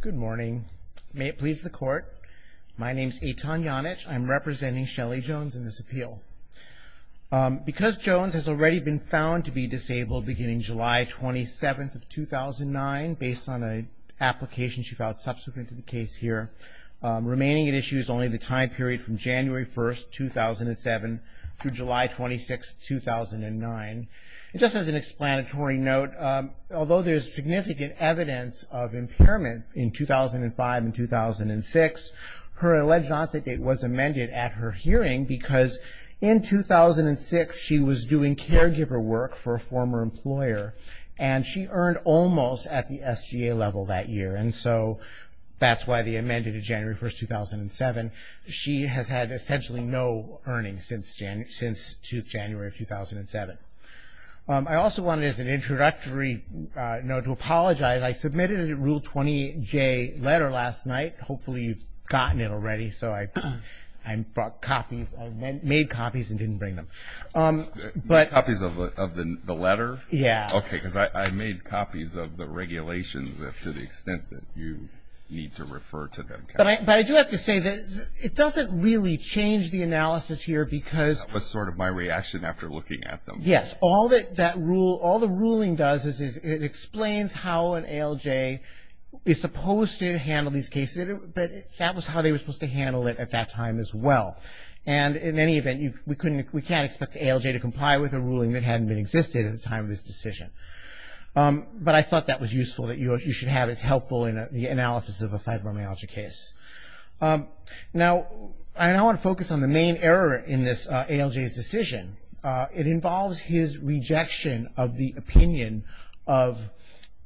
Good morning. May it please the court. My name is Eitan Janich. I'm representing Shelly Jones in this appeal. Because Jones has already been found to be disabled beginning July 27, 2009, based on an application she filed subsequent to the case here, remaining at issue is only the time period from January 1, 2007 through July 26, 2009. Just as an explanatory note, although there is significant evidence of impairment in 2005 and 2006, her alleged onset date was amended at her hearing because in 2006 she was doing caregiver work for a former employer and she earned almost at the SGA level that year. And so that's why the amendment of January 1, 2007. She has had essentially no earnings since January 2, 2007. I also wanted as an introductory note to apologize. I submitted a Rule 20J letter last night. Hopefully you've gotten it already, so I brought copies. I made copies and didn't bring them. But copies of the letter? Yeah. Okay, because I made copies of the regulations to the extent that you need to refer to them. But I do have to say that it doesn't really change the analysis here because That was sort of my reaction after looking at them. Yes, all the ruling does is it explains how an ALJ is supposed to handle these cases, but that was how they were supposed to handle it at that time as well. And in any event, we can't expect the ALJ to comply with a ruling that hadn't existed at the time of this decision. But I thought that was useful, that you should have it helpful in the analysis of a fibromyalgia case. Now I want to focus on the main error in this ALJ's decision. It involves his rejection of the opinion of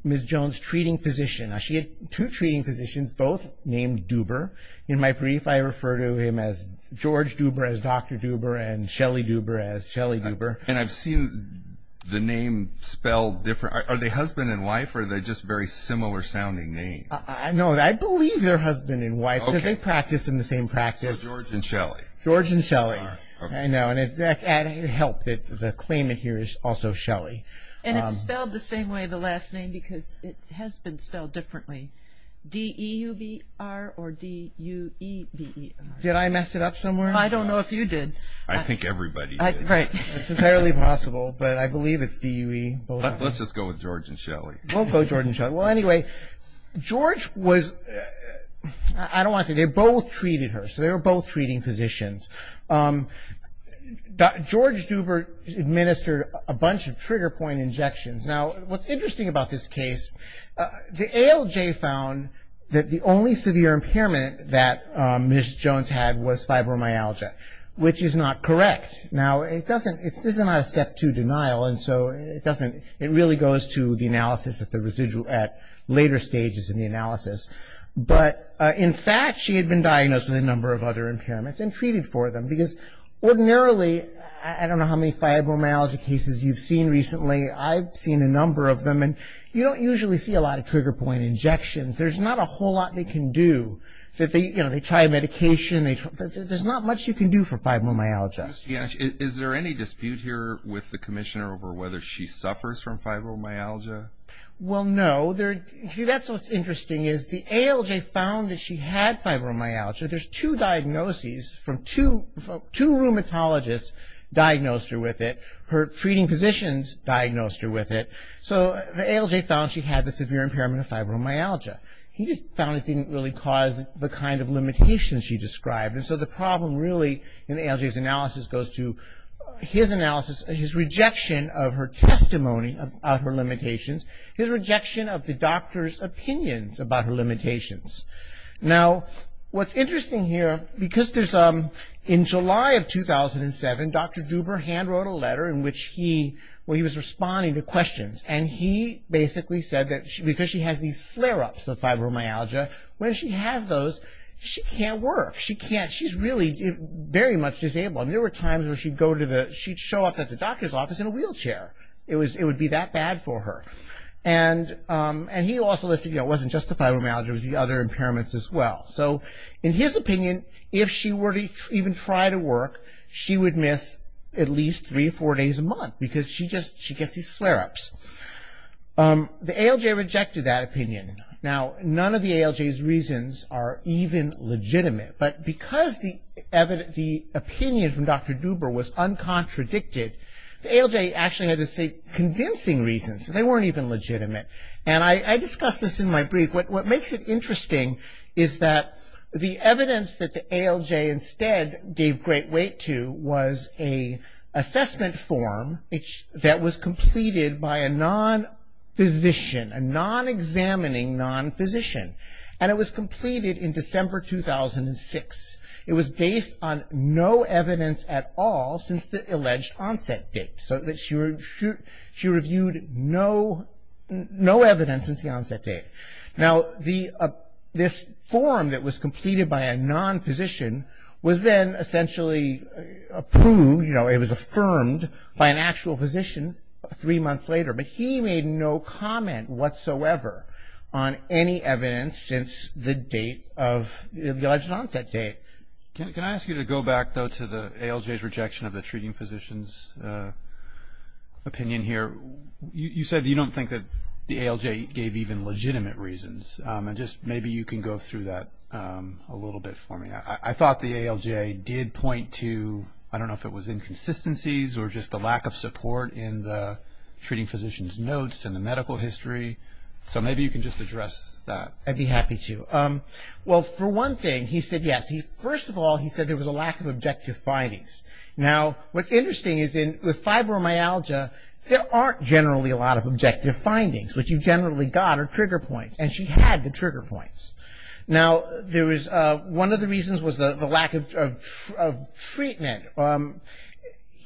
Ms. Jones' treating physician. Now she had two treating physicians, both named Duber. In my brief, I refer to him as George Duber as Dr. Duber and Shelly Duber as Shelly Duber. And I've seen the name spelled different. Are they husband and wife or are they just very similar sounding names? No, I believe they're husband and wife because they practice in the same practice. So George and Shelly. George and Shelly. Okay. I know, and it helped that the claimant here is also Shelly. And it's spelled the same way, the last name, because it has been spelled differently. D-E-U-B-R or D-U-E-B-E-R? Did I mess it up somewhere? I don't know if you did. I think everybody did. Right. It's entirely possible, but I believe it's D-U-E. Let's just go with George and Shelly. We'll go George and Shelly. Well, anyway, George was, I don't want to say, they both treated her. So they were both treating physicians. George Duber administered a bunch of trigger point injections. Now, what's interesting about this case, the ALJ found that the only severe impairment that Ms. Jones had was fibromyalgia, which is not correct. Now, it doesn't, this is not a step two denial, and so it doesn't, it really goes to the analysis at the residual, at later stages in the analysis. But in fact, she had been diagnosed with a number of other impairments and treated for them because ordinarily, I don't know how many fibromyalgia cases you've seen recently. I've seen a number of them, and you don't usually see a lot of trigger point injections. There's not a whole lot they can do. They try medication. There's not much you can do for fibromyalgia. Is there any dispute here with the commissioner over whether she suffers from fibromyalgia? Well, no. See, that's what's interesting is the ALJ found that she had fibromyalgia. There's two diagnoses from two, two rheumatologists diagnosed her with it. Her treating physicians diagnosed her with it. So the ALJ found she had the severe impairment of fibromyalgia. He just found it didn't really cause the kind of limitations she described, and so the problem really in the ALJ's analysis goes to his analysis, his rejection of her testimony about her limitations, his rejection of the doctor's opinions about her limitations. Now, what's interesting here, because there's, in July of 2007, Dr. Duber hand-wrote a letter in which he was responding to questions, and he basically said that because she has these flare-ups of fibromyalgia, when she has those, she can't work. She's really very much disabled, and there were times where she'd show up at the doctor's office in a wheelchair. It would be that bad for her. And he also listed it wasn't just the fibromyalgia. It was the other impairments as well. So in his opinion, if she were to even try to work, she would miss at least three or four days a month, because she gets these flare-ups. The ALJ rejected that opinion. Now, none of the ALJ's reasons are even legitimate, but because the opinion from Dr. Duber was uncontradicted, the ALJ actually had to say convincing reasons. They weren't even legitimate, and I discussed this in my brief. What makes it interesting is that the evidence that the ALJ instead gave great weight to was an assessment form that was completed by a non-physician, a non-examining non-physician, and it was completed in December 2006. It was based on no evidence at all since the alleged onset date. So she reviewed no evidence since the onset date. Now, this form that was completed by a non-physician was then essentially approved, you know, it was affirmed by an actual physician three months later. But he made no comment whatsoever on any evidence since the date of the alleged onset date. Can I ask you to go back, though, to the ALJ's rejection of the treating physician's opinion here? You said you don't think that the ALJ gave even legitimate reasons, and just maybe you can go through that a little bit for me. I thought the ALJ did point to, I don't know if it was inconsistencies or just a lack of support in the treating physician's notes and the medical history. So maybe you can just address that. I'd be happy to. Well, for one thing, he said yes. First of all, he said there was a lack of objective findings. Now, what's interesting is with fibromyalgia, there aren't generally a lot of objective findings. What you generally got are trigger points, and she had the trigger points. Now, one of the reasons was the lack of treatment.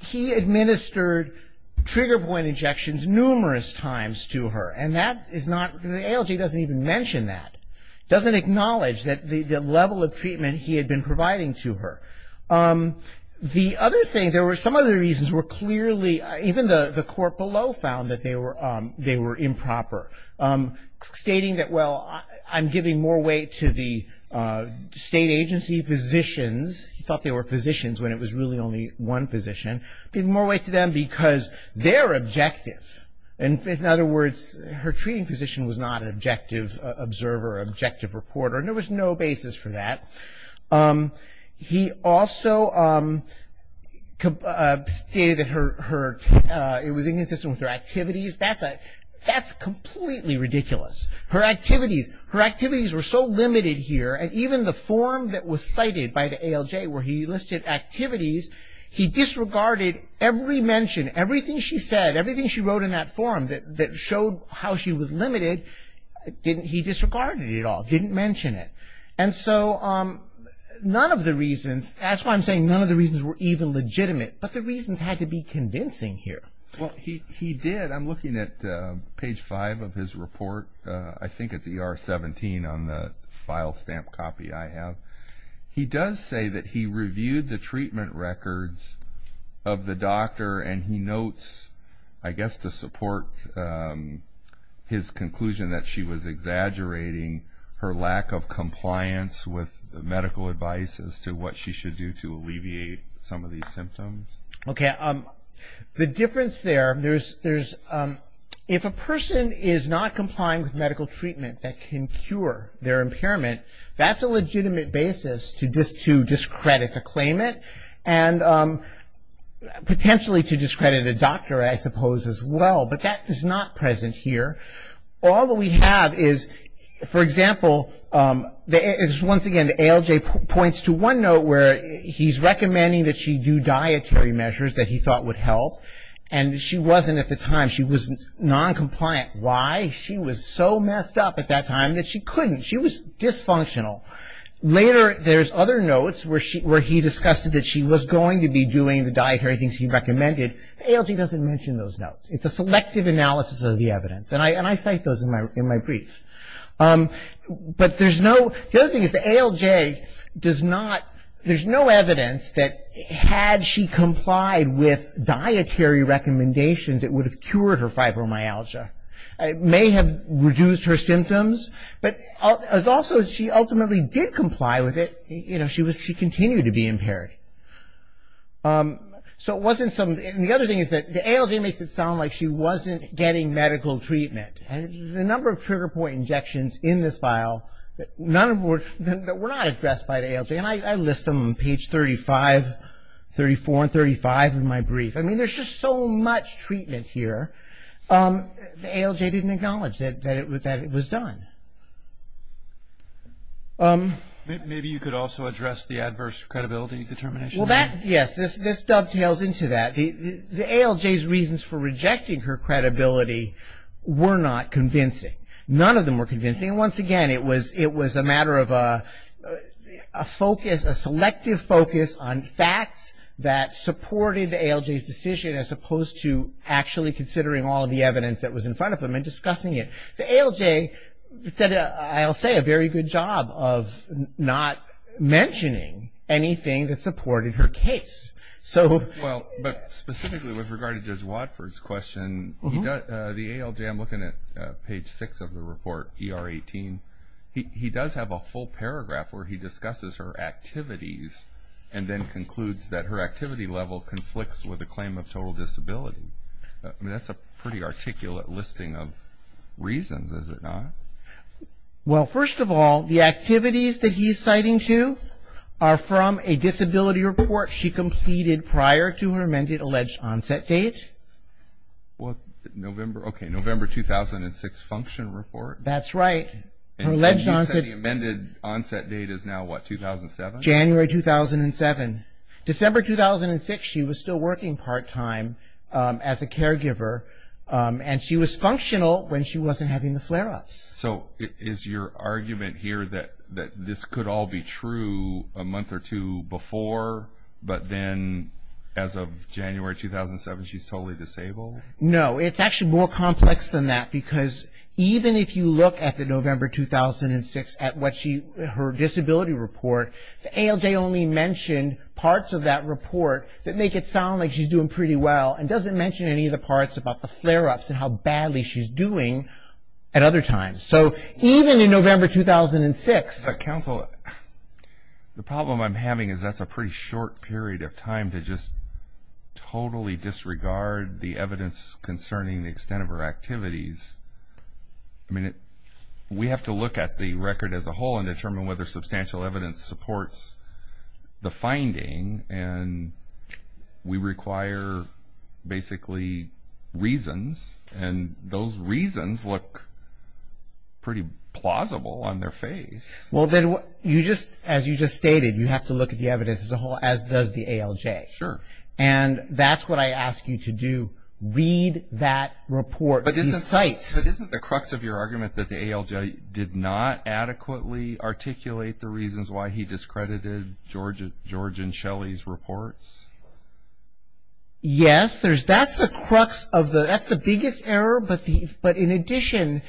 He administered trigger point injections numerous times to her, and the ALJ doesn't even mention that, doesn't acknowledge the level of treatment he had been providing to her. The other thing, there were some other reasons were clearly, even the court below found that they were improper. Stating that, well, I'm giving more weight to the state agency physicians, he thought they were physicians when it was really only one physician, giving more weight to them because they're objective. In other words, her treating physician was not an objective observer, objective reporter, and there was no basis for that. He also stated that it was inconsistent with her activities. That's completely ridiculous. Her activities were so limited here, and even the form that was cited by the ALJ where he listed activities, he disregarded every mention, everything she said, everything she wrote in that form that showed how she was limited, he disregarded it all, didn't mention it. And so, none of the reasons, that's why I'm saying none of the reasons were even legitimate, but the reasons had to be convincing here. Well, he did. I'm looking at page five of his report. I think it's ER 17 on the file stamp copy I have. He does say that he reviewed the treatment records of the doctor, and he notes, I guess to support his conclusion that she was exaggerating her lack of compliance with medical advice as to what she should do to alleviate some of these symptoms. Okay. The difference there, there's, if a person is not complying with medical treatment that can cure their impairment, that's a legitimate basis to discredit the claimant, and potentially to discredit a doctor, I suppose, as well. But that is not present here. All that we have is, for example, once again, the ALJ points to one note where he's recommending that she do dietary measures that he thought would help, and she wasn't at the time. She was noncompliant. Why? She was so messed up at that time that she couldn't. She was dysfunctional. Later, there's other notes where he discussed that she was going to be doing the dietary things he recommended. The ALJ doesn't mention those notes. It's a selective analysis of the evidence, and I cite those in my brief. But there's no, the other thing is the ALJ does not, there's no evidence that had she complied with dietary recommendations, it would have cured her fibromyalgia. It may have reduced her symptoms, but also she ultimately did comply with it. You know, she continued to be impaired. So it wasn't some, and the other thing is that the ALJ makes it sound like she wasn't getting medical treatment. And the number of trigger point injections in this file, none of them were, were not addressed by the ALJ, and I list them on page 35, 34 and 35 of my brief. I mean, there's just so much treatment here. The ALJ didn't acknowledge that it was done. Maybe you could also address the adverse credibility determination. Well, that, yes, this dovetails into that. The ALJ's reasons for rejecting her credibility were not convincing. None of them were convincing, and once again, it was a matter of a focus, a selective focus on facts that supported the ALJ's decision, as opposed to actually considering all of the evidence that was in front of them and discussing it. The ALJ did, I'll say, a very good job of not mentioning anything that supported her case. So. Well, but specifically with regard to Judge Watford's question, the ALJ, I'm looking at page 6 of the report, ER 18. He does have a full paragraph where he discusses her activities and then concludes that her activity level conflicts with a claim of total disability. I mean, that's a pretty articulate listing of reasons, is it not? Well, first of all, the activities that he's citing to are from a disability report she completed prior to her amended alleged onset date. Well, November, okay, November 2006 function report. That's right. Her alleged onset. And you said the amended onset date is now what, 2007? January 2007. December 2006, she was still working part-time as a caregiver, and she was functional when she wasn't having the flare-ups. So is your argument here that this could all be true a month or two before, but then as of January 2007 she's totally disabled? No, it's actually more complex than that, because even if you look at the November 2006 at what she, her disability report, the ALJ only mentioned parts of that report that make it sound like she's doing pretty well and doesn't mention any of the parts about the flare-ups and how badly she's doing at other times. So even in November 2006. Counsel, the problem I'm having is that's a pretty short period of time to just totally disregard the evidence concerning the extent of her activities. I mean, we have to look at the record as a whole and determine whether substantial evidence supports the finding, and we require basically reasons, and those reasons look pretty plausible on their face. Well, then you just, as you just stated, you have to look at the evidence as a whole, as does the ALJ. Sure. And that's what I ask you to do, read that report, these sites. But isn't the crux of your argument that the ALJ did not adequately articulate the reasons why he discredited George and Shelley's reports? Yes, there's, that's the crux of the, that's the biggest error. But in addition,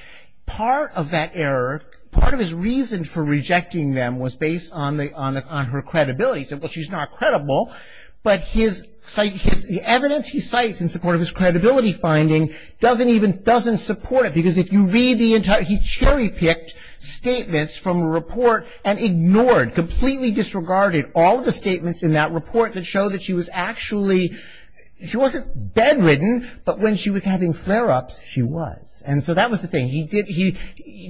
part of that error, part of his reason for rejecting them was based on her credibility. He said, well, she's not credible. But his evidence he cites in support of his credibility finding doesn't even, doesn't support it. Because if you read the entire, he cherry-picked statements from a report and ignored, completely disregarded all the statements in that report that show that she was actually, she wasn't bedridden, but when she was having flare-ups, she was. And so that was the thing. He did, he,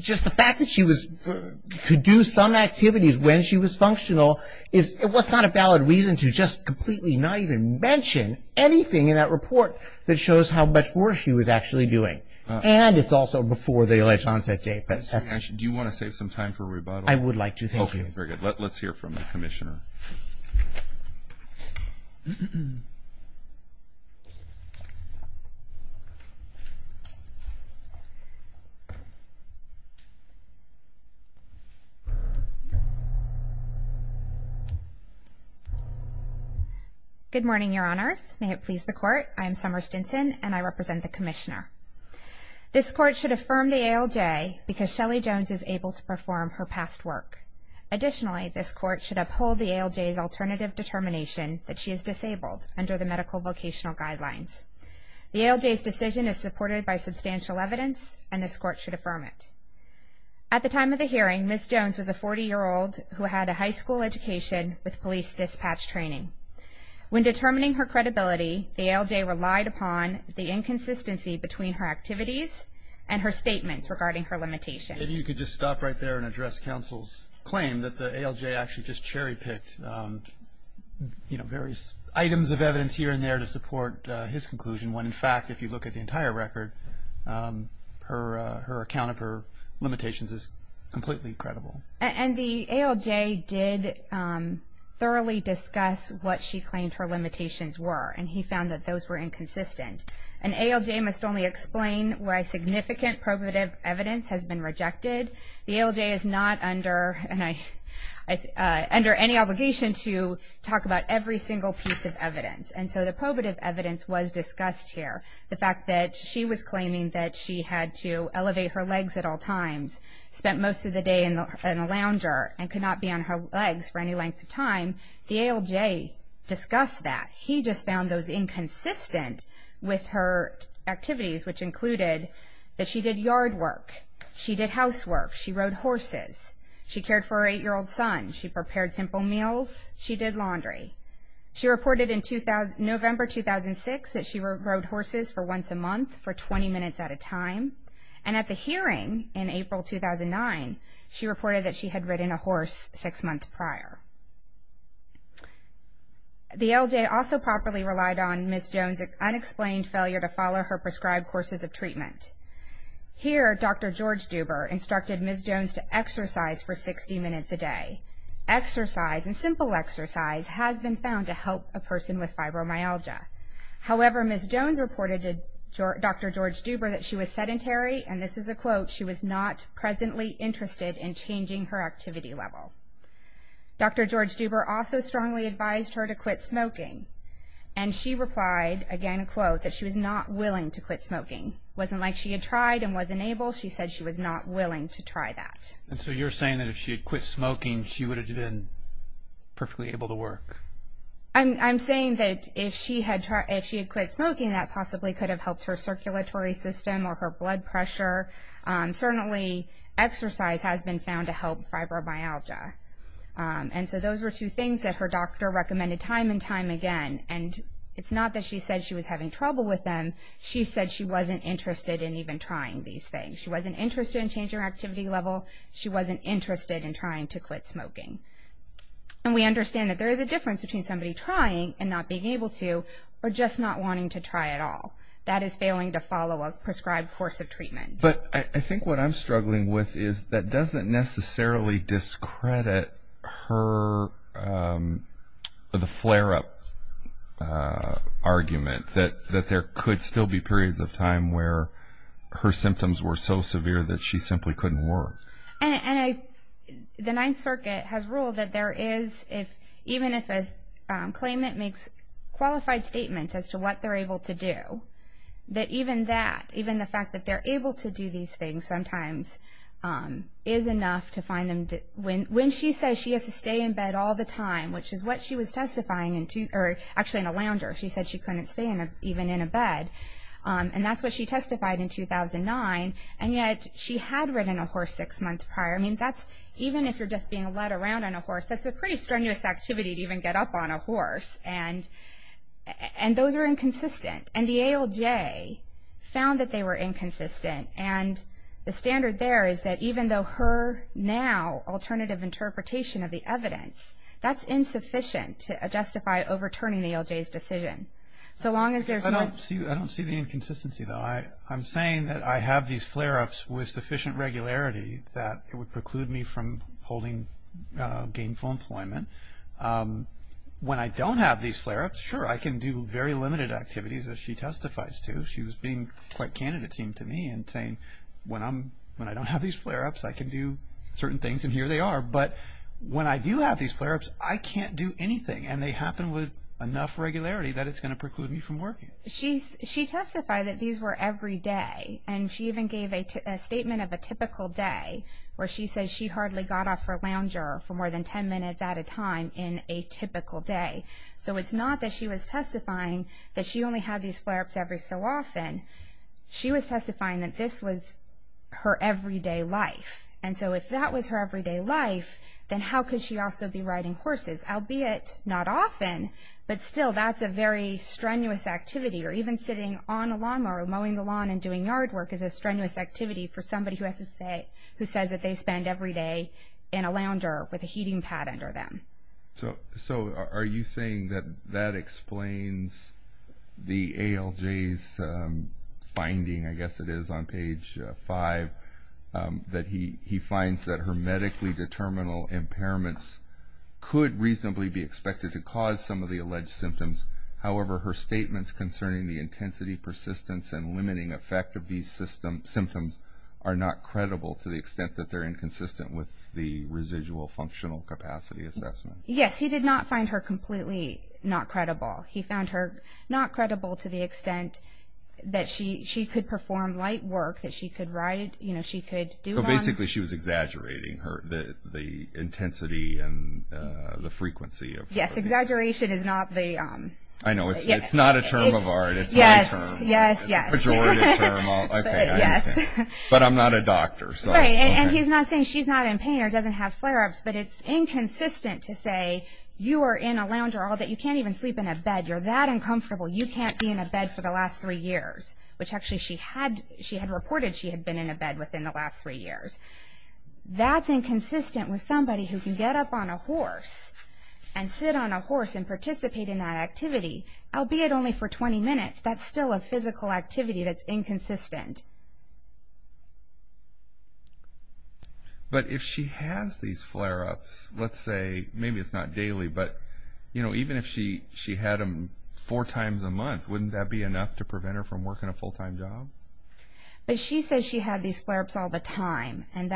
just the fact that she was, could do some activities when she was functional is, it was not a valid reason to just completely not even mention anything in that report that shows how much worse she was actually doing. And it's also before the election onset date. But that's. Do you want to save some time for rebuttal? I would like to, thank you. Okay, very good. Let's hear from the Commissioner. Good morning, Your Honors. May it please the Court. I am Summer Stinson, and I represent the Commissioner. This Court should affirm the ALJ because Shelly Jones is able to perform her past work. Additionally, this Court should uphold the ALJ's alternative determination that she is disabled under the medical vocational guidelines. The ALJ's decision is supported by substantial evidence, and this Court should affirm it. At the time of the hearing, Ms. Jones was a 40-year-old who had a high school education with police dispatch training. When determining her credibility, the ALJ relied upon the inconsistency between her activities and her statements regarding her limitations. If you could just stop right there and address Counsel's claim that the ALJ actually just cherry-picked, you know, various items of evidence here and there to support his conclusion, when in fact if you look at the entire record, her account of her limitations is completely credible. And the ALJ did thoroughly discuss what she claimed her limitations were, and he found that those were inconsistent. An ALJ must only explain why significant probative evidence has been rejected. The ALJ is not under any obligation to talk about every single piece of evidence, and so the probative evidence was discussed here. The fact that she was claiming that she had to elevate her legs at all times, spent most of the day in the lounger, and could not be on her legs for any length of time, the ALJ discussed that. He just found those inconsistent with her activities, which included that she did yard work. She did housework. She rode horses. She cared for her 8-year-old son. She prepared simple meals. She did laundry. She reported in November 2006 that she rode horses for once a month for 20 minutes at a time. And at the hearing in April 2009, she reported that she had ridden a horse six months prior. The ALJ also properly relied on Ms. Jones' unexplained failure to follow her prescribed courses of treatment. Here, Dr. George Duber instructed Ms. Jones to exercise for 60 minutes a day. Exercise, and simple exercise, has been found to help a person with fibromyalgia. However, Ms. Jones reported to Dr. George Duber that she was sedentary, and this is a quote, she was not presently interested in changing her activity level. Dr. George Duber also strongly advised her to quit smoking, and she replied, again, a quote, that she was not willing to quit smoking. It wasn't like she had tried and wasn't able. She said she was not willing to try that. And so you're saying that if she had quit smoking, she would have been perfectly able to work. I'm saying that if she had quit smoking, that possibly could have helped her circulatory system or her blood pressure. Certainly, exercise has been found to help fibromyalgia. And so those were two things that her doctor recommended time and time again. And it's not that she said she was having trouble with them. She said she wasn't interested in even trying these things. She wasn't interested in changing her activity level. She wasn't interested in trying to quit smoking. And we understand that there is a difference between somebody trying and not being able to, or just not wanting to try at all. That is failing to follow a prescribed course of treatment. But I think what I'm struggling with is that doesn't necessarily discredit the flare-up argument that there could still be periods of time where her symptoms were so severe that she simply couldn't work. And the Ninth Circuit has ruled that there is, even if a claimant makes qualified statements as to what they're able to do, that even that, even the fact that they're able to do these things sometimes is enough to find them. When she says she has to stay in bed all the time, which is what she was testifying in, or actually in a lounger, she said she couldn't stay even in a bed. And that's what she testified in 2009. And yet she had ridden a horse six months prior. I mean, that's, even if you're just being led around on a horse, that's a pretty strenuous activity to even get up on a horse. And those are inconsistent. And the ALJ found that they were inconsistent. And the standard there is that even though her now alternative interpretation of the evidence, that's insufficient to justify overturning the ALJ's decision. I don't see the inconsistency, though. I'm saying that I have these flare-ups with sufficient regularity that it would preclude me from holding gainful employment. When I don't have these flare-ups, sure, I can do very limited activities, as she testifies to. She was being quite candidate-team to me and saying, when I don't have these flare-ups, I can do certain things, and here they are. But when I do have these flare-ups, I can't do anything. And they happen with enough regularity that it's going to preclude me from working. She testified that these were every day. And she even gave a statement of a typical day, where she says she hardly got off her lounger for more than 10 minutes at a time in a typical day. So it's not that she was testifying that she only had these flare-ups every so often. She was testifying that this was her everyday life. And so if that was her everyday life, then how could she also be riding horses, albeit not often, but still that's a very strenuous activity. Or even sitting on a lawnmower or mowing the lawn and doing yard work is a strenuous activity for somebody who says that they spend every day in a lounger with a heating pad under them. So are you saying that that explains the ALJ's finding, I guess it is, on page 5, that he finds that her medically determinable impairments could reasonably be expected to cause some of the alleged symptoms. However, her statements concerning the intensity, persistence, and limiting effect of these symptoms are not credible to the extent that they're inconsistent with the residual functional capacity assessment. Yes, he did not find her completely not credible. He found her not credible to the extent that she could perform light work, that she could do one. So basically she was exaggerating the intensity and the frequency. Yes, exaggeration is not the... I know, it's not a term of art, it's my term. Yes, yes. Pejorative term. Yes. But I'm not a doctor, so... Right, and he's not saying she's not in pain or doesn't have flare-ups, but it's inconsistent to say you are in a lounger all day, you can't even sleep in a bed, you're that uncomfortable, you can't be in a bed for the last three years. Which actually she had reported she had been in a bed within the last three years. That's inconsistent with somebody who can get up on a horse and sit on a horse and participate in that activity, albeit only for 20 minutes. That's still a physical activity that's inconsistent. But if she has these flare-ups, let's say, maybe it's not daily, but even if she had them four times a month, wouldn't that be enough to prevent her from working a full-time job? But she says she had these flare-ups all the time, and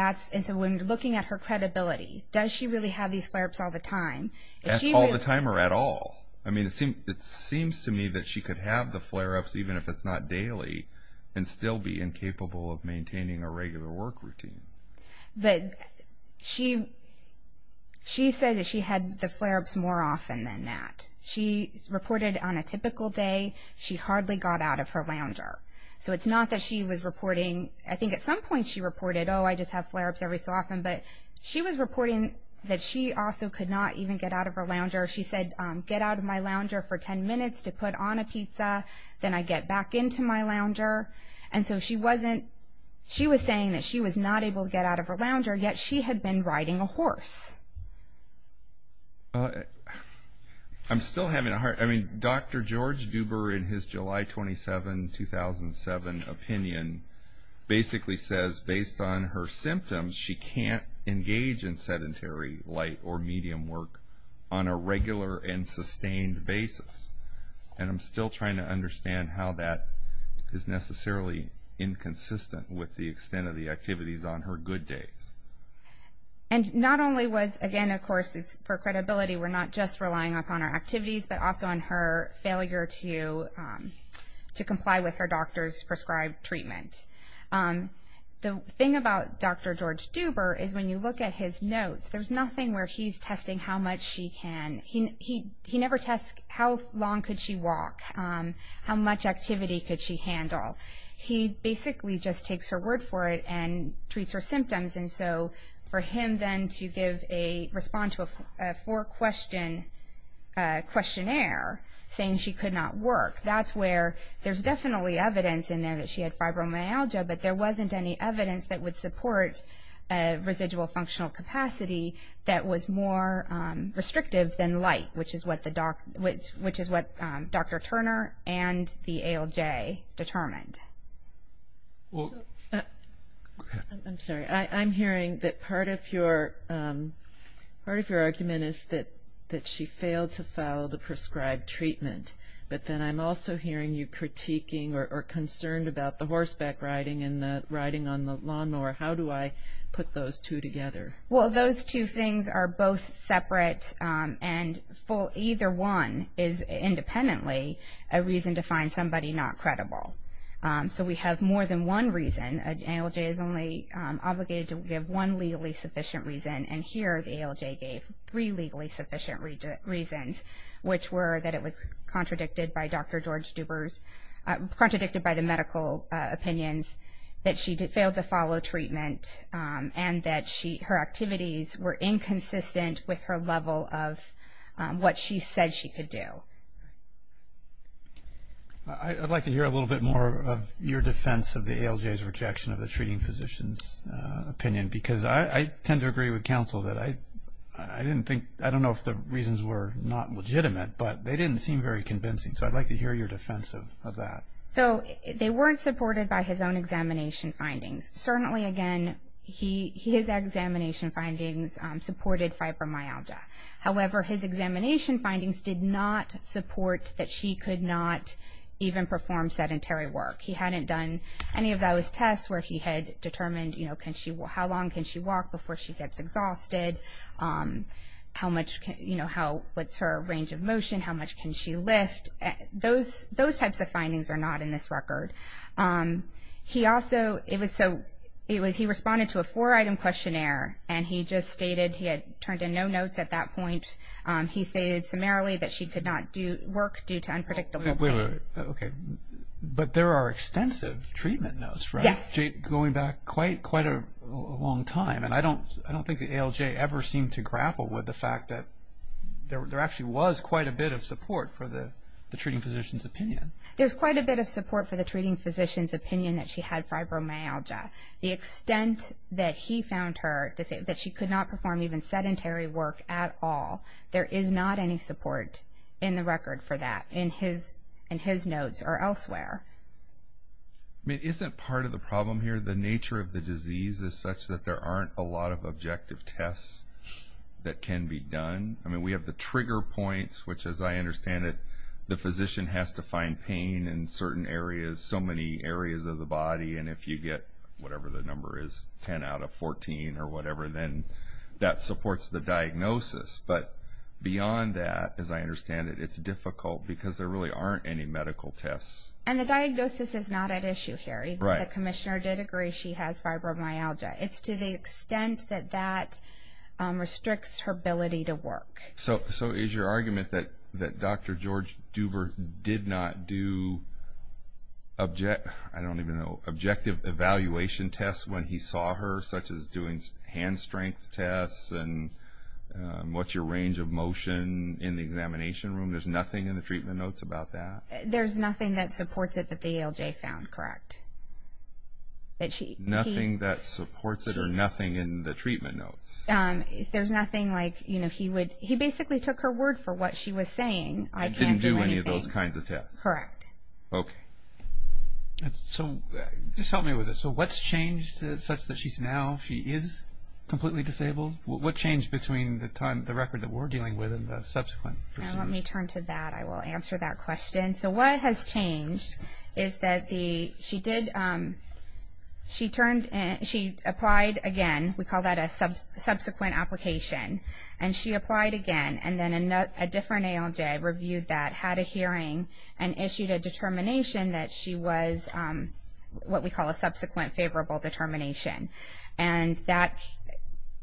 so when looking at her credibility, does she really have these flare-ups all the time? All the time or at all? I mean, it seems to me that she could have the flare-ups even if it's not daily and still be incapable of maintaining a regular work routine. But she said that she had the flare-ups more often than that. She reported on a typical day she hardly got out of her lounger. So it's not that she was reporting. I think at some point she reported, oh, I just have flare-ups every so often. But she was reporting that she also could not even get out of her lounger. She said, get out of my lounger for 10 minutes to put on a pizza, then I get back into my lounger. And so she was saying that she was not able to get out of her lounger, yet she had been riding a horse. I'm still having a hard time. I mean, Dr. George Duber, in his July 27, 2007 opinion, basically says based on her symptoms, she can't engage in sedentary light or medium work on a regular and sustained basis. And I'm still trying to understand how that is necessarily inconsistent with the extent of the activities on her good days. And not only was, again, of course, for credibility, we're not just relying upon her activities, but also on her failure to comply with her doctor's prescribed treatment. The thing about Dr. George Duber is when you look at his notes, there's nothing where he's testing how much she can. He never tests how long could she walk, how much activity could she handle. He basically just takes her word for it and treats her symptoms. And so for him then to give a response to a four-question questionnaire saying she could not work, that's where there's definitely evidence in there that she had fibromyalgia, but there wasn't any evidence that would support residual functional capacity that was more restrictive than light, which is what Dr. Turner and the ALJ determined. I'm sorry. I'm hearing that part of your argument is that she failed to follow the prescribed treatment. But then I'm also hearing you critiquing or concerned about the horseback riding and the riding on the lawnmower. How do I put those two together? Well, those two things are both separate, and either one is independently a reason to find somebody not credible. So we have more than one reason. The ALJ is only obligated to give one legally sufficient reason, and here the ALJ gave three legally sufficient reasons, which were that it was contradicted by Dr. George Duber's, contradicted by the medical opinions, that she failed to follow treatment, and that her activities were inconsistent with her level of what she said she could do. I'd like to hear a little bit more of your defense of the ALJ's rejection of the treating physician's opinion, because I tend to agree with counsel that I didn't think, I don't know if the reasons were not legitimate, but they didn't seem very convincing. So I'd like to hear your defense of that. So they weren't supported by his own examination findings. Certainly, again, his examination findings supported fibromyalgia. However, his examination findings did not support that she could not even perform sedentary work. He hadn't done any of those tests where he had determined, you know, how long can she walk before she gets exhausted, how much can, you know, what's her range of motion, how much can she lift. Those types of findings are not in this record. He also, it was so, he responded to a four-item questionnaire, and he just stated he had turned in no notes at that point. He stated summarily that she could not work due to unpredictable pain. Okay. But there are extensive treatment notes, right? Yes. Going back quite a long time. And I don't think the ALJ ever seemed to grapple with the fact that there actually was quite a bit of support for the treating physician's opinion. There's quite a bit of support for the treating physician's opinion that she had fibromyalgia. The extent that he found her to say that she could not perform even sedentary work at all, there is not any support in the record for that in his notes or elsewhere. I mean, isn't part of the problem here the nature of the disease is such that there aren't a lot of objective tests that can be done? I mean, we have the trigger points, which, as I understand it, the physician has to find pain in certain areas, so many areas of the body, and if you get whatever the number is, 10 out of 14 or whatever, then that supports the diagnosis. But beyond that, as I understand it, it's difficult because there really aren't any medical tests. And the diagnosis is not at issue here. Right. The commissioner did agree she has fibromyalgia. It's to the extent that that restricts her ability to work. So is your argument that Dr. George Duber did not do objective evaluation tests when he saw her, such as doing hand strength tests and what's your range of motion in the examination room? There's nothing in the treatment notes about that? There's nothing that supports it that the ALJ found, correct? Nothing that supports it or nothing in the treatment notes? There's nothing like, you know, he basically took her word for what she was saying. I didn't do any of those kinds of tests. Correct. Okay. So just help me with this. So what's changed such that she's now, she is completely disabled? What changed between the record that we're dealing with and the subsequent? Let me turn to that. I will answer that question. And so what has changed is that she did, she turned, she applied again. We call that a subsequent application. And she applied again and then a different ALJ reviewed that, had a hearing, and issued a determination that she was what we call a subsequent favorable determination. And that,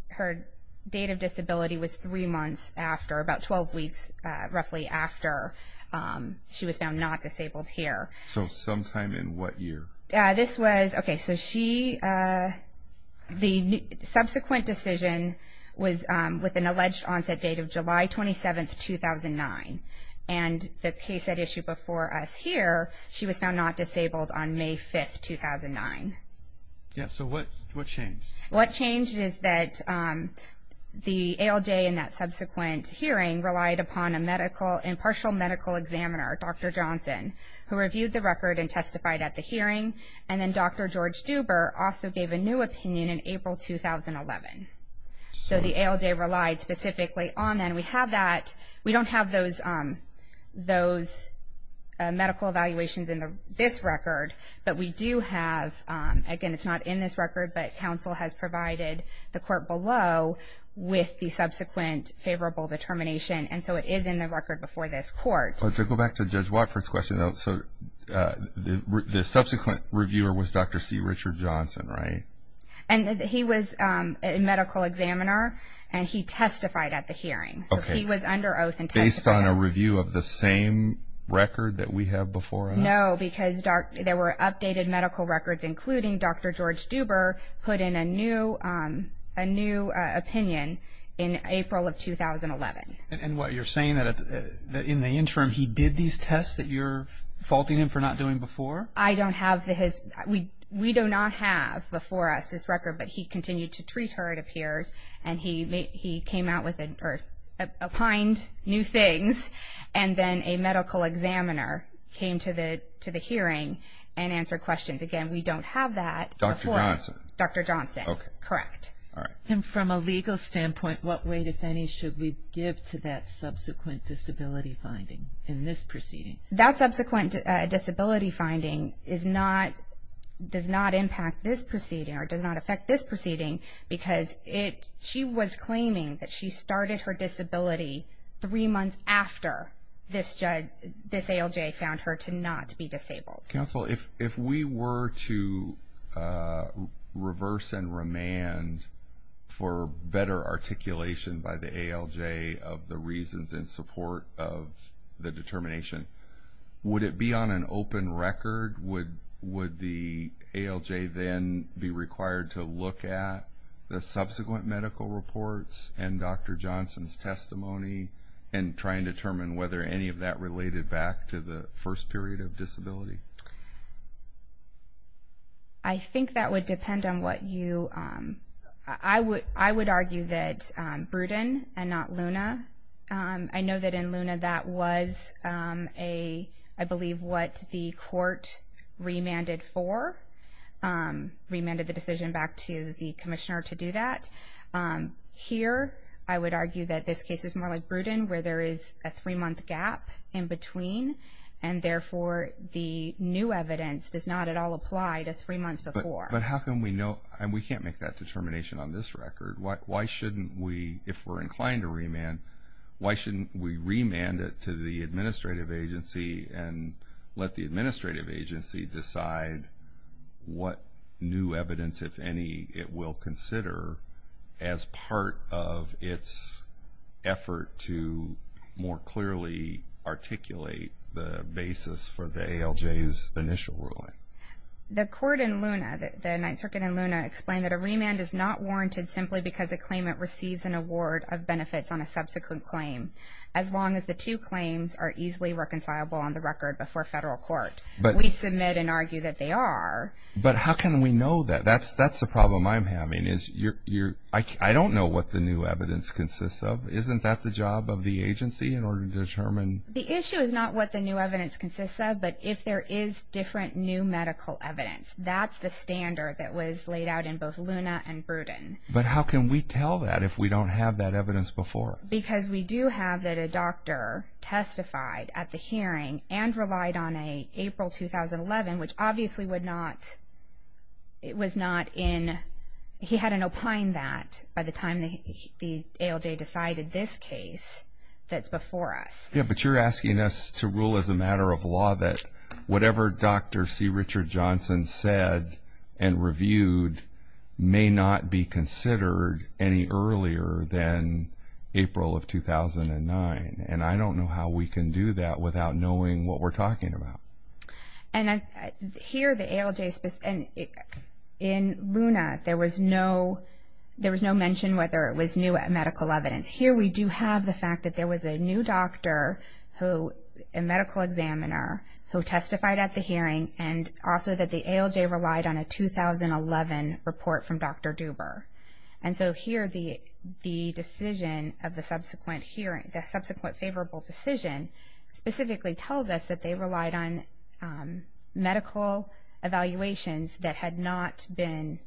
her date of disability was three months after, about 12 weeks roughly after she was found not disabled here. So sometime in what year? This was, okay, so she, the subsequent decision was with an alleged onset date of July 27, 2009. And the case that issued before us here, she was found not disabled on May 5, 2009. Yeah, so what changed? What changed is that the ALJ in that subsequent hearing relied upon a medical, impartial medical examiner, Dr. Johnson, who reviewed the record and testified at the hearing. And then Dr. George Duber also gave a new opinion in April 2011. So the ALJ relied specifically on that. And we have that, we don't have those medical evaluations in this record, but we do have, again, it's not in this record, but counsel has provided the court below with the subsequent favorable determination. And so it is in the record before this court. To go back to Judge Watford's question though, so the subsequent reviewer was Dr. C. Richard Johnson, right? And he was a medical examiner, and he testified at the hearing. So he was under oath and testified. Based on a review of the same record that we have before him? No, because there were updated medical records, including Dr. George Duber put in a new opinion in April of 2011. And what, you're saying that in the interim he did these tests that you're faulting him for not doing before? I don't have his, we do not have before us this record, but he continued to treat her it appears, and he came out with, or applied new things, and then a medical examiner came to the hearing and answered questions. Again, we don't have that before us. Dr. Johnson? Dr. Johnson. Okay. Correct. All right. And from a legal standpoint, what weight, if any, should we give to that subsequent disability finding in this proceeding? That subsequent disability finding does not impact this proceeding or does not affect this proceeding, because she was claiming that she started her disability three months after this ALJ found her to not be disabled. Counsel, if we were to reverse and remand for better articulation by the ALJ of the reasons in support of the determination, would it be on an open record? Would the ALJ then be required to look at the subsequent medical reports and Dr. Johnson's testimony and try and determine whether any of that related back to the first period of disability? I think that would depend on what you, I would argue that Bruton and not Luna. I know that in Luna that was a, I believe, what the court remanded for, remanded the decision back to the commissioner to do that. Here, I would argue that this case is more like Bruton, where there is a three-month gap in between, and therefore the new evidence does not at all apply to three months before. But how can we know? We can't make that determination on this record. Why shouldn't we, if we're inclined to remand, why shouldn't we remand it to the administrative agency and let the administrative agency decide what new evidence, if any, it will consider as part of its effort to more clearly articulate the basis for the ALJ's initial ruling? I just want to explain that a remand is not warranted simply because a claimant receives an award of benefits on a subsequent claim, as long as the two claims are easily reconcilable on the record before federal court. We submit and argue that they are. But how can we know that? That's the problem I'm having is I don't know what the new evidence consists of. Isn't that the job of the agency in order to determine? The issue is not what the new evidence consists of, but if there is different new medical evidence. That's the standard that was laid out in both Luna and Bruden. But how can we tell that if we don't have that evidence before? Because we do have that a doctor testified at the hearing and relied on an April 2011, which obviously would not, it was not in, he had an opine that by the time the ALJ decided this case that's before us. Yeah, but you're asking us to rule as a matter of law that whatever Dr. C. Richard Johnson said and reviewed may not be considered any earlier than April of 2009. And I don't know how we can do that without knowing what we're talking about. And here the ALJ, and in Luna there was no mention whether it was new medical evidence. Here we do have the fact that there was a new doctor who, a medical examiner who testified at the hearing and also that the ALJ relied on a 2011 report from Dr. Duber. And so here the decision of the subsequent hearing, the subsequent favorable decision specifically tells us that they relied on medical evaluations that had not been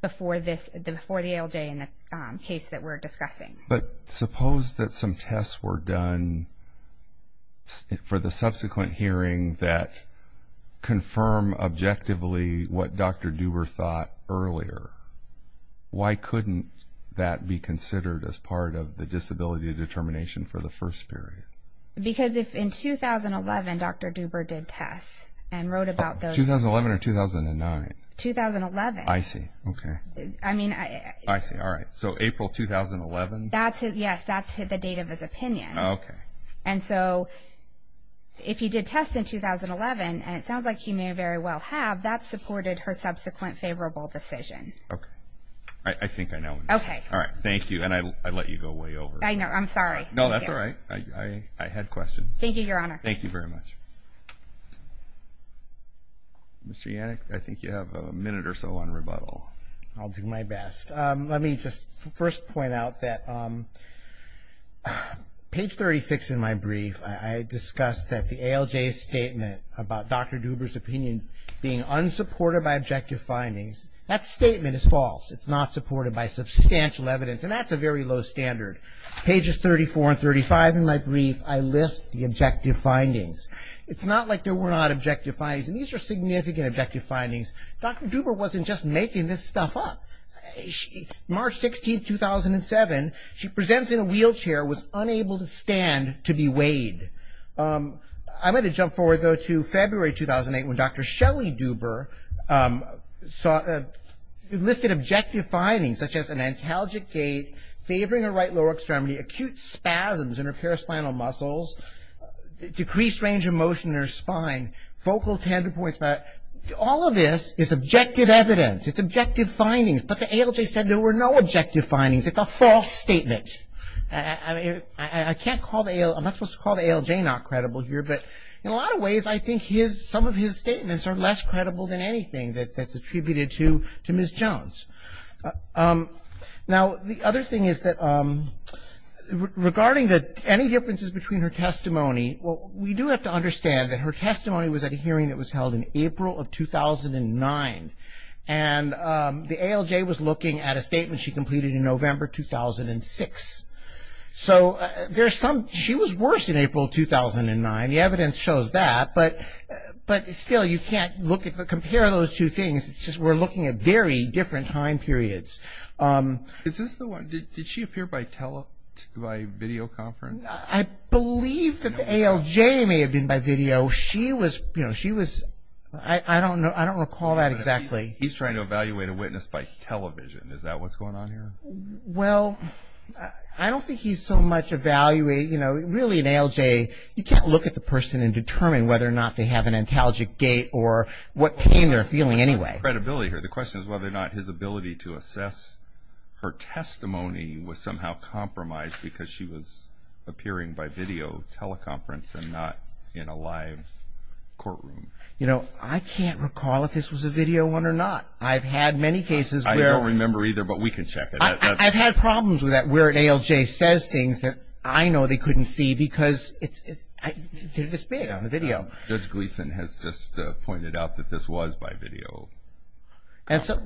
before the ALJ in the case that we're discussing. But suppose that some tests were done for the subsequent hearing that confirm objectively what Dr. Duber thought earlier. Why couldn't that be considered as part of the disability determination for the first period? Because if in 2011 Dr. Duber did tests and wrote about those... 2011 or 2009? 2011. I see, okay. I mean... I see, all right. So April 2011? Yes, that's the date of his opinion. Okay. And so if he did tests in 2011, and it sounds like he may very well have, that supported her subsequent favorable decision. Okay. I think I know. Okay. All right, thank you. And I let you go way over. I'm sorry. No, that's all right. I had questions. Thank you, Your Honor. Thank you very much. Mr. Yannick, I think you have a minute or so on rebuttal. I'll do my best. Let me just first point out that page 36 in my brief, I discussed that the ALJ statement about Dr. Duber's opinion being unsupported by objective findings. That statement is false. It's not supported by substantial evidence, and that's a very low standard. Pages 34 and 35 in my brief, I list the objective findings. It's not like there were not objective findings, and these are significant objective findings. Dr. Duber wasn't just making this stuff up. March 16, 2007, she presents in a wheelchair, was unable to stand to be weighed. I'm going to jump forward, though, to February 2008, when Dr. Shelley Duber listed objective findings, such as an antalgic gait, favoring her right lower extremity, acute spasms in her paraspinal muscles, decreased range of motion in her spine, focal tender points. All of this is objective evidence. It's objective findings. But the ALJ said there were no objective findings. It's a false statement. I can't call the ALJ, I'm not supposed to call the ALJ not credible here, but in a lot of ways I think some of his statements are less credible than anything that's attributed to Ms. Jones. Now, the other thing is that regarding any differences between her testimony, well, we do have to understand that her testimony was at a hearing that was held in April of 2009. And the ALJ was looking at a statement she completed in November 2006. So there's some, she was worse in April 2009. The evidence shows that. But still, you can't compare those two things. It's just we're looking at very different time periods. Is this the one, did she appear by videoconference? I believe that the ALJ may have been by video. She was, you know, she was, I don't recall that exactly. He's trying to evaluate a witness by television. Is that what's going on here? Well, I don't think he's so much evaluating, you know, really an ALJ, you can't look at the person and determine whether or not they have an antalgic gait or what pain they're feeling anyway. Credibility here. The question is whether or not his ability to assess her testimony was somehow compromised because she was appearing by video teleconference and not in a live courtroom. You know, I can't recall if this was a video one or not. I've had many cases where. I don't remember either, but we can check it. I've had problems with that where an ALJ says things that I know they couldn't see because they're this big on the video. Judge Gleeson has just pointed out that this was by video. But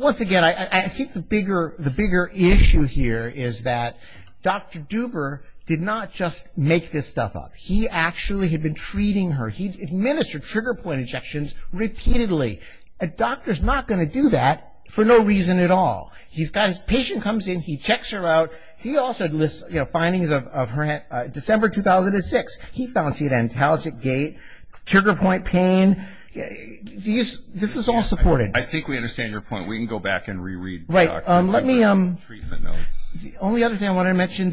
once again, I think the bigger issue here is that Dr. Duber did not just make this stuff up. He actually had been treating her. He administered trigger point injections repeatedly. A doctor's not going to do that for no reason at all. He's got his patient comes in, he checks her out. He also lists, you know, findings of her December 2006. He found she had antalgic gait, trigger point pain. I mean, this is all supported. I think we understand your point. We can go back and re-read the treatment notes. The only other thing I want to mention,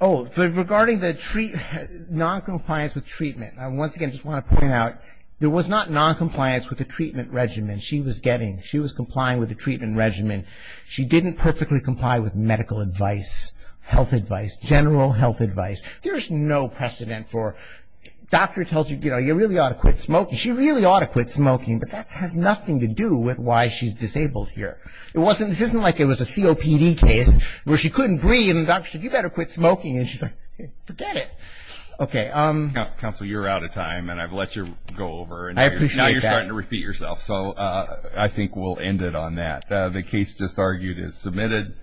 regarding the noncompliance with treatment, I once again just want to point out there was not noncompliance with the treatment regimen she was getting. She was complying with the treatment regimen. She didn't perfectly comply with medical advice, health advice, general health advice. There's no precedent for doctor tells you, you know, you really ought to quit smoking. She really ought to quit smoking, but that has nothing to do with why she's disabled here. This isn't like it was a COPD case where she couldn't breathe and the doctor said, you better quit smoking, and she's like, forget it. Okay. Counsel, you're out of time, and I've let you go over. I appreciate that. Now you're starting to repeat yourself, so I think we'll end it on that. The case just argued is submitted.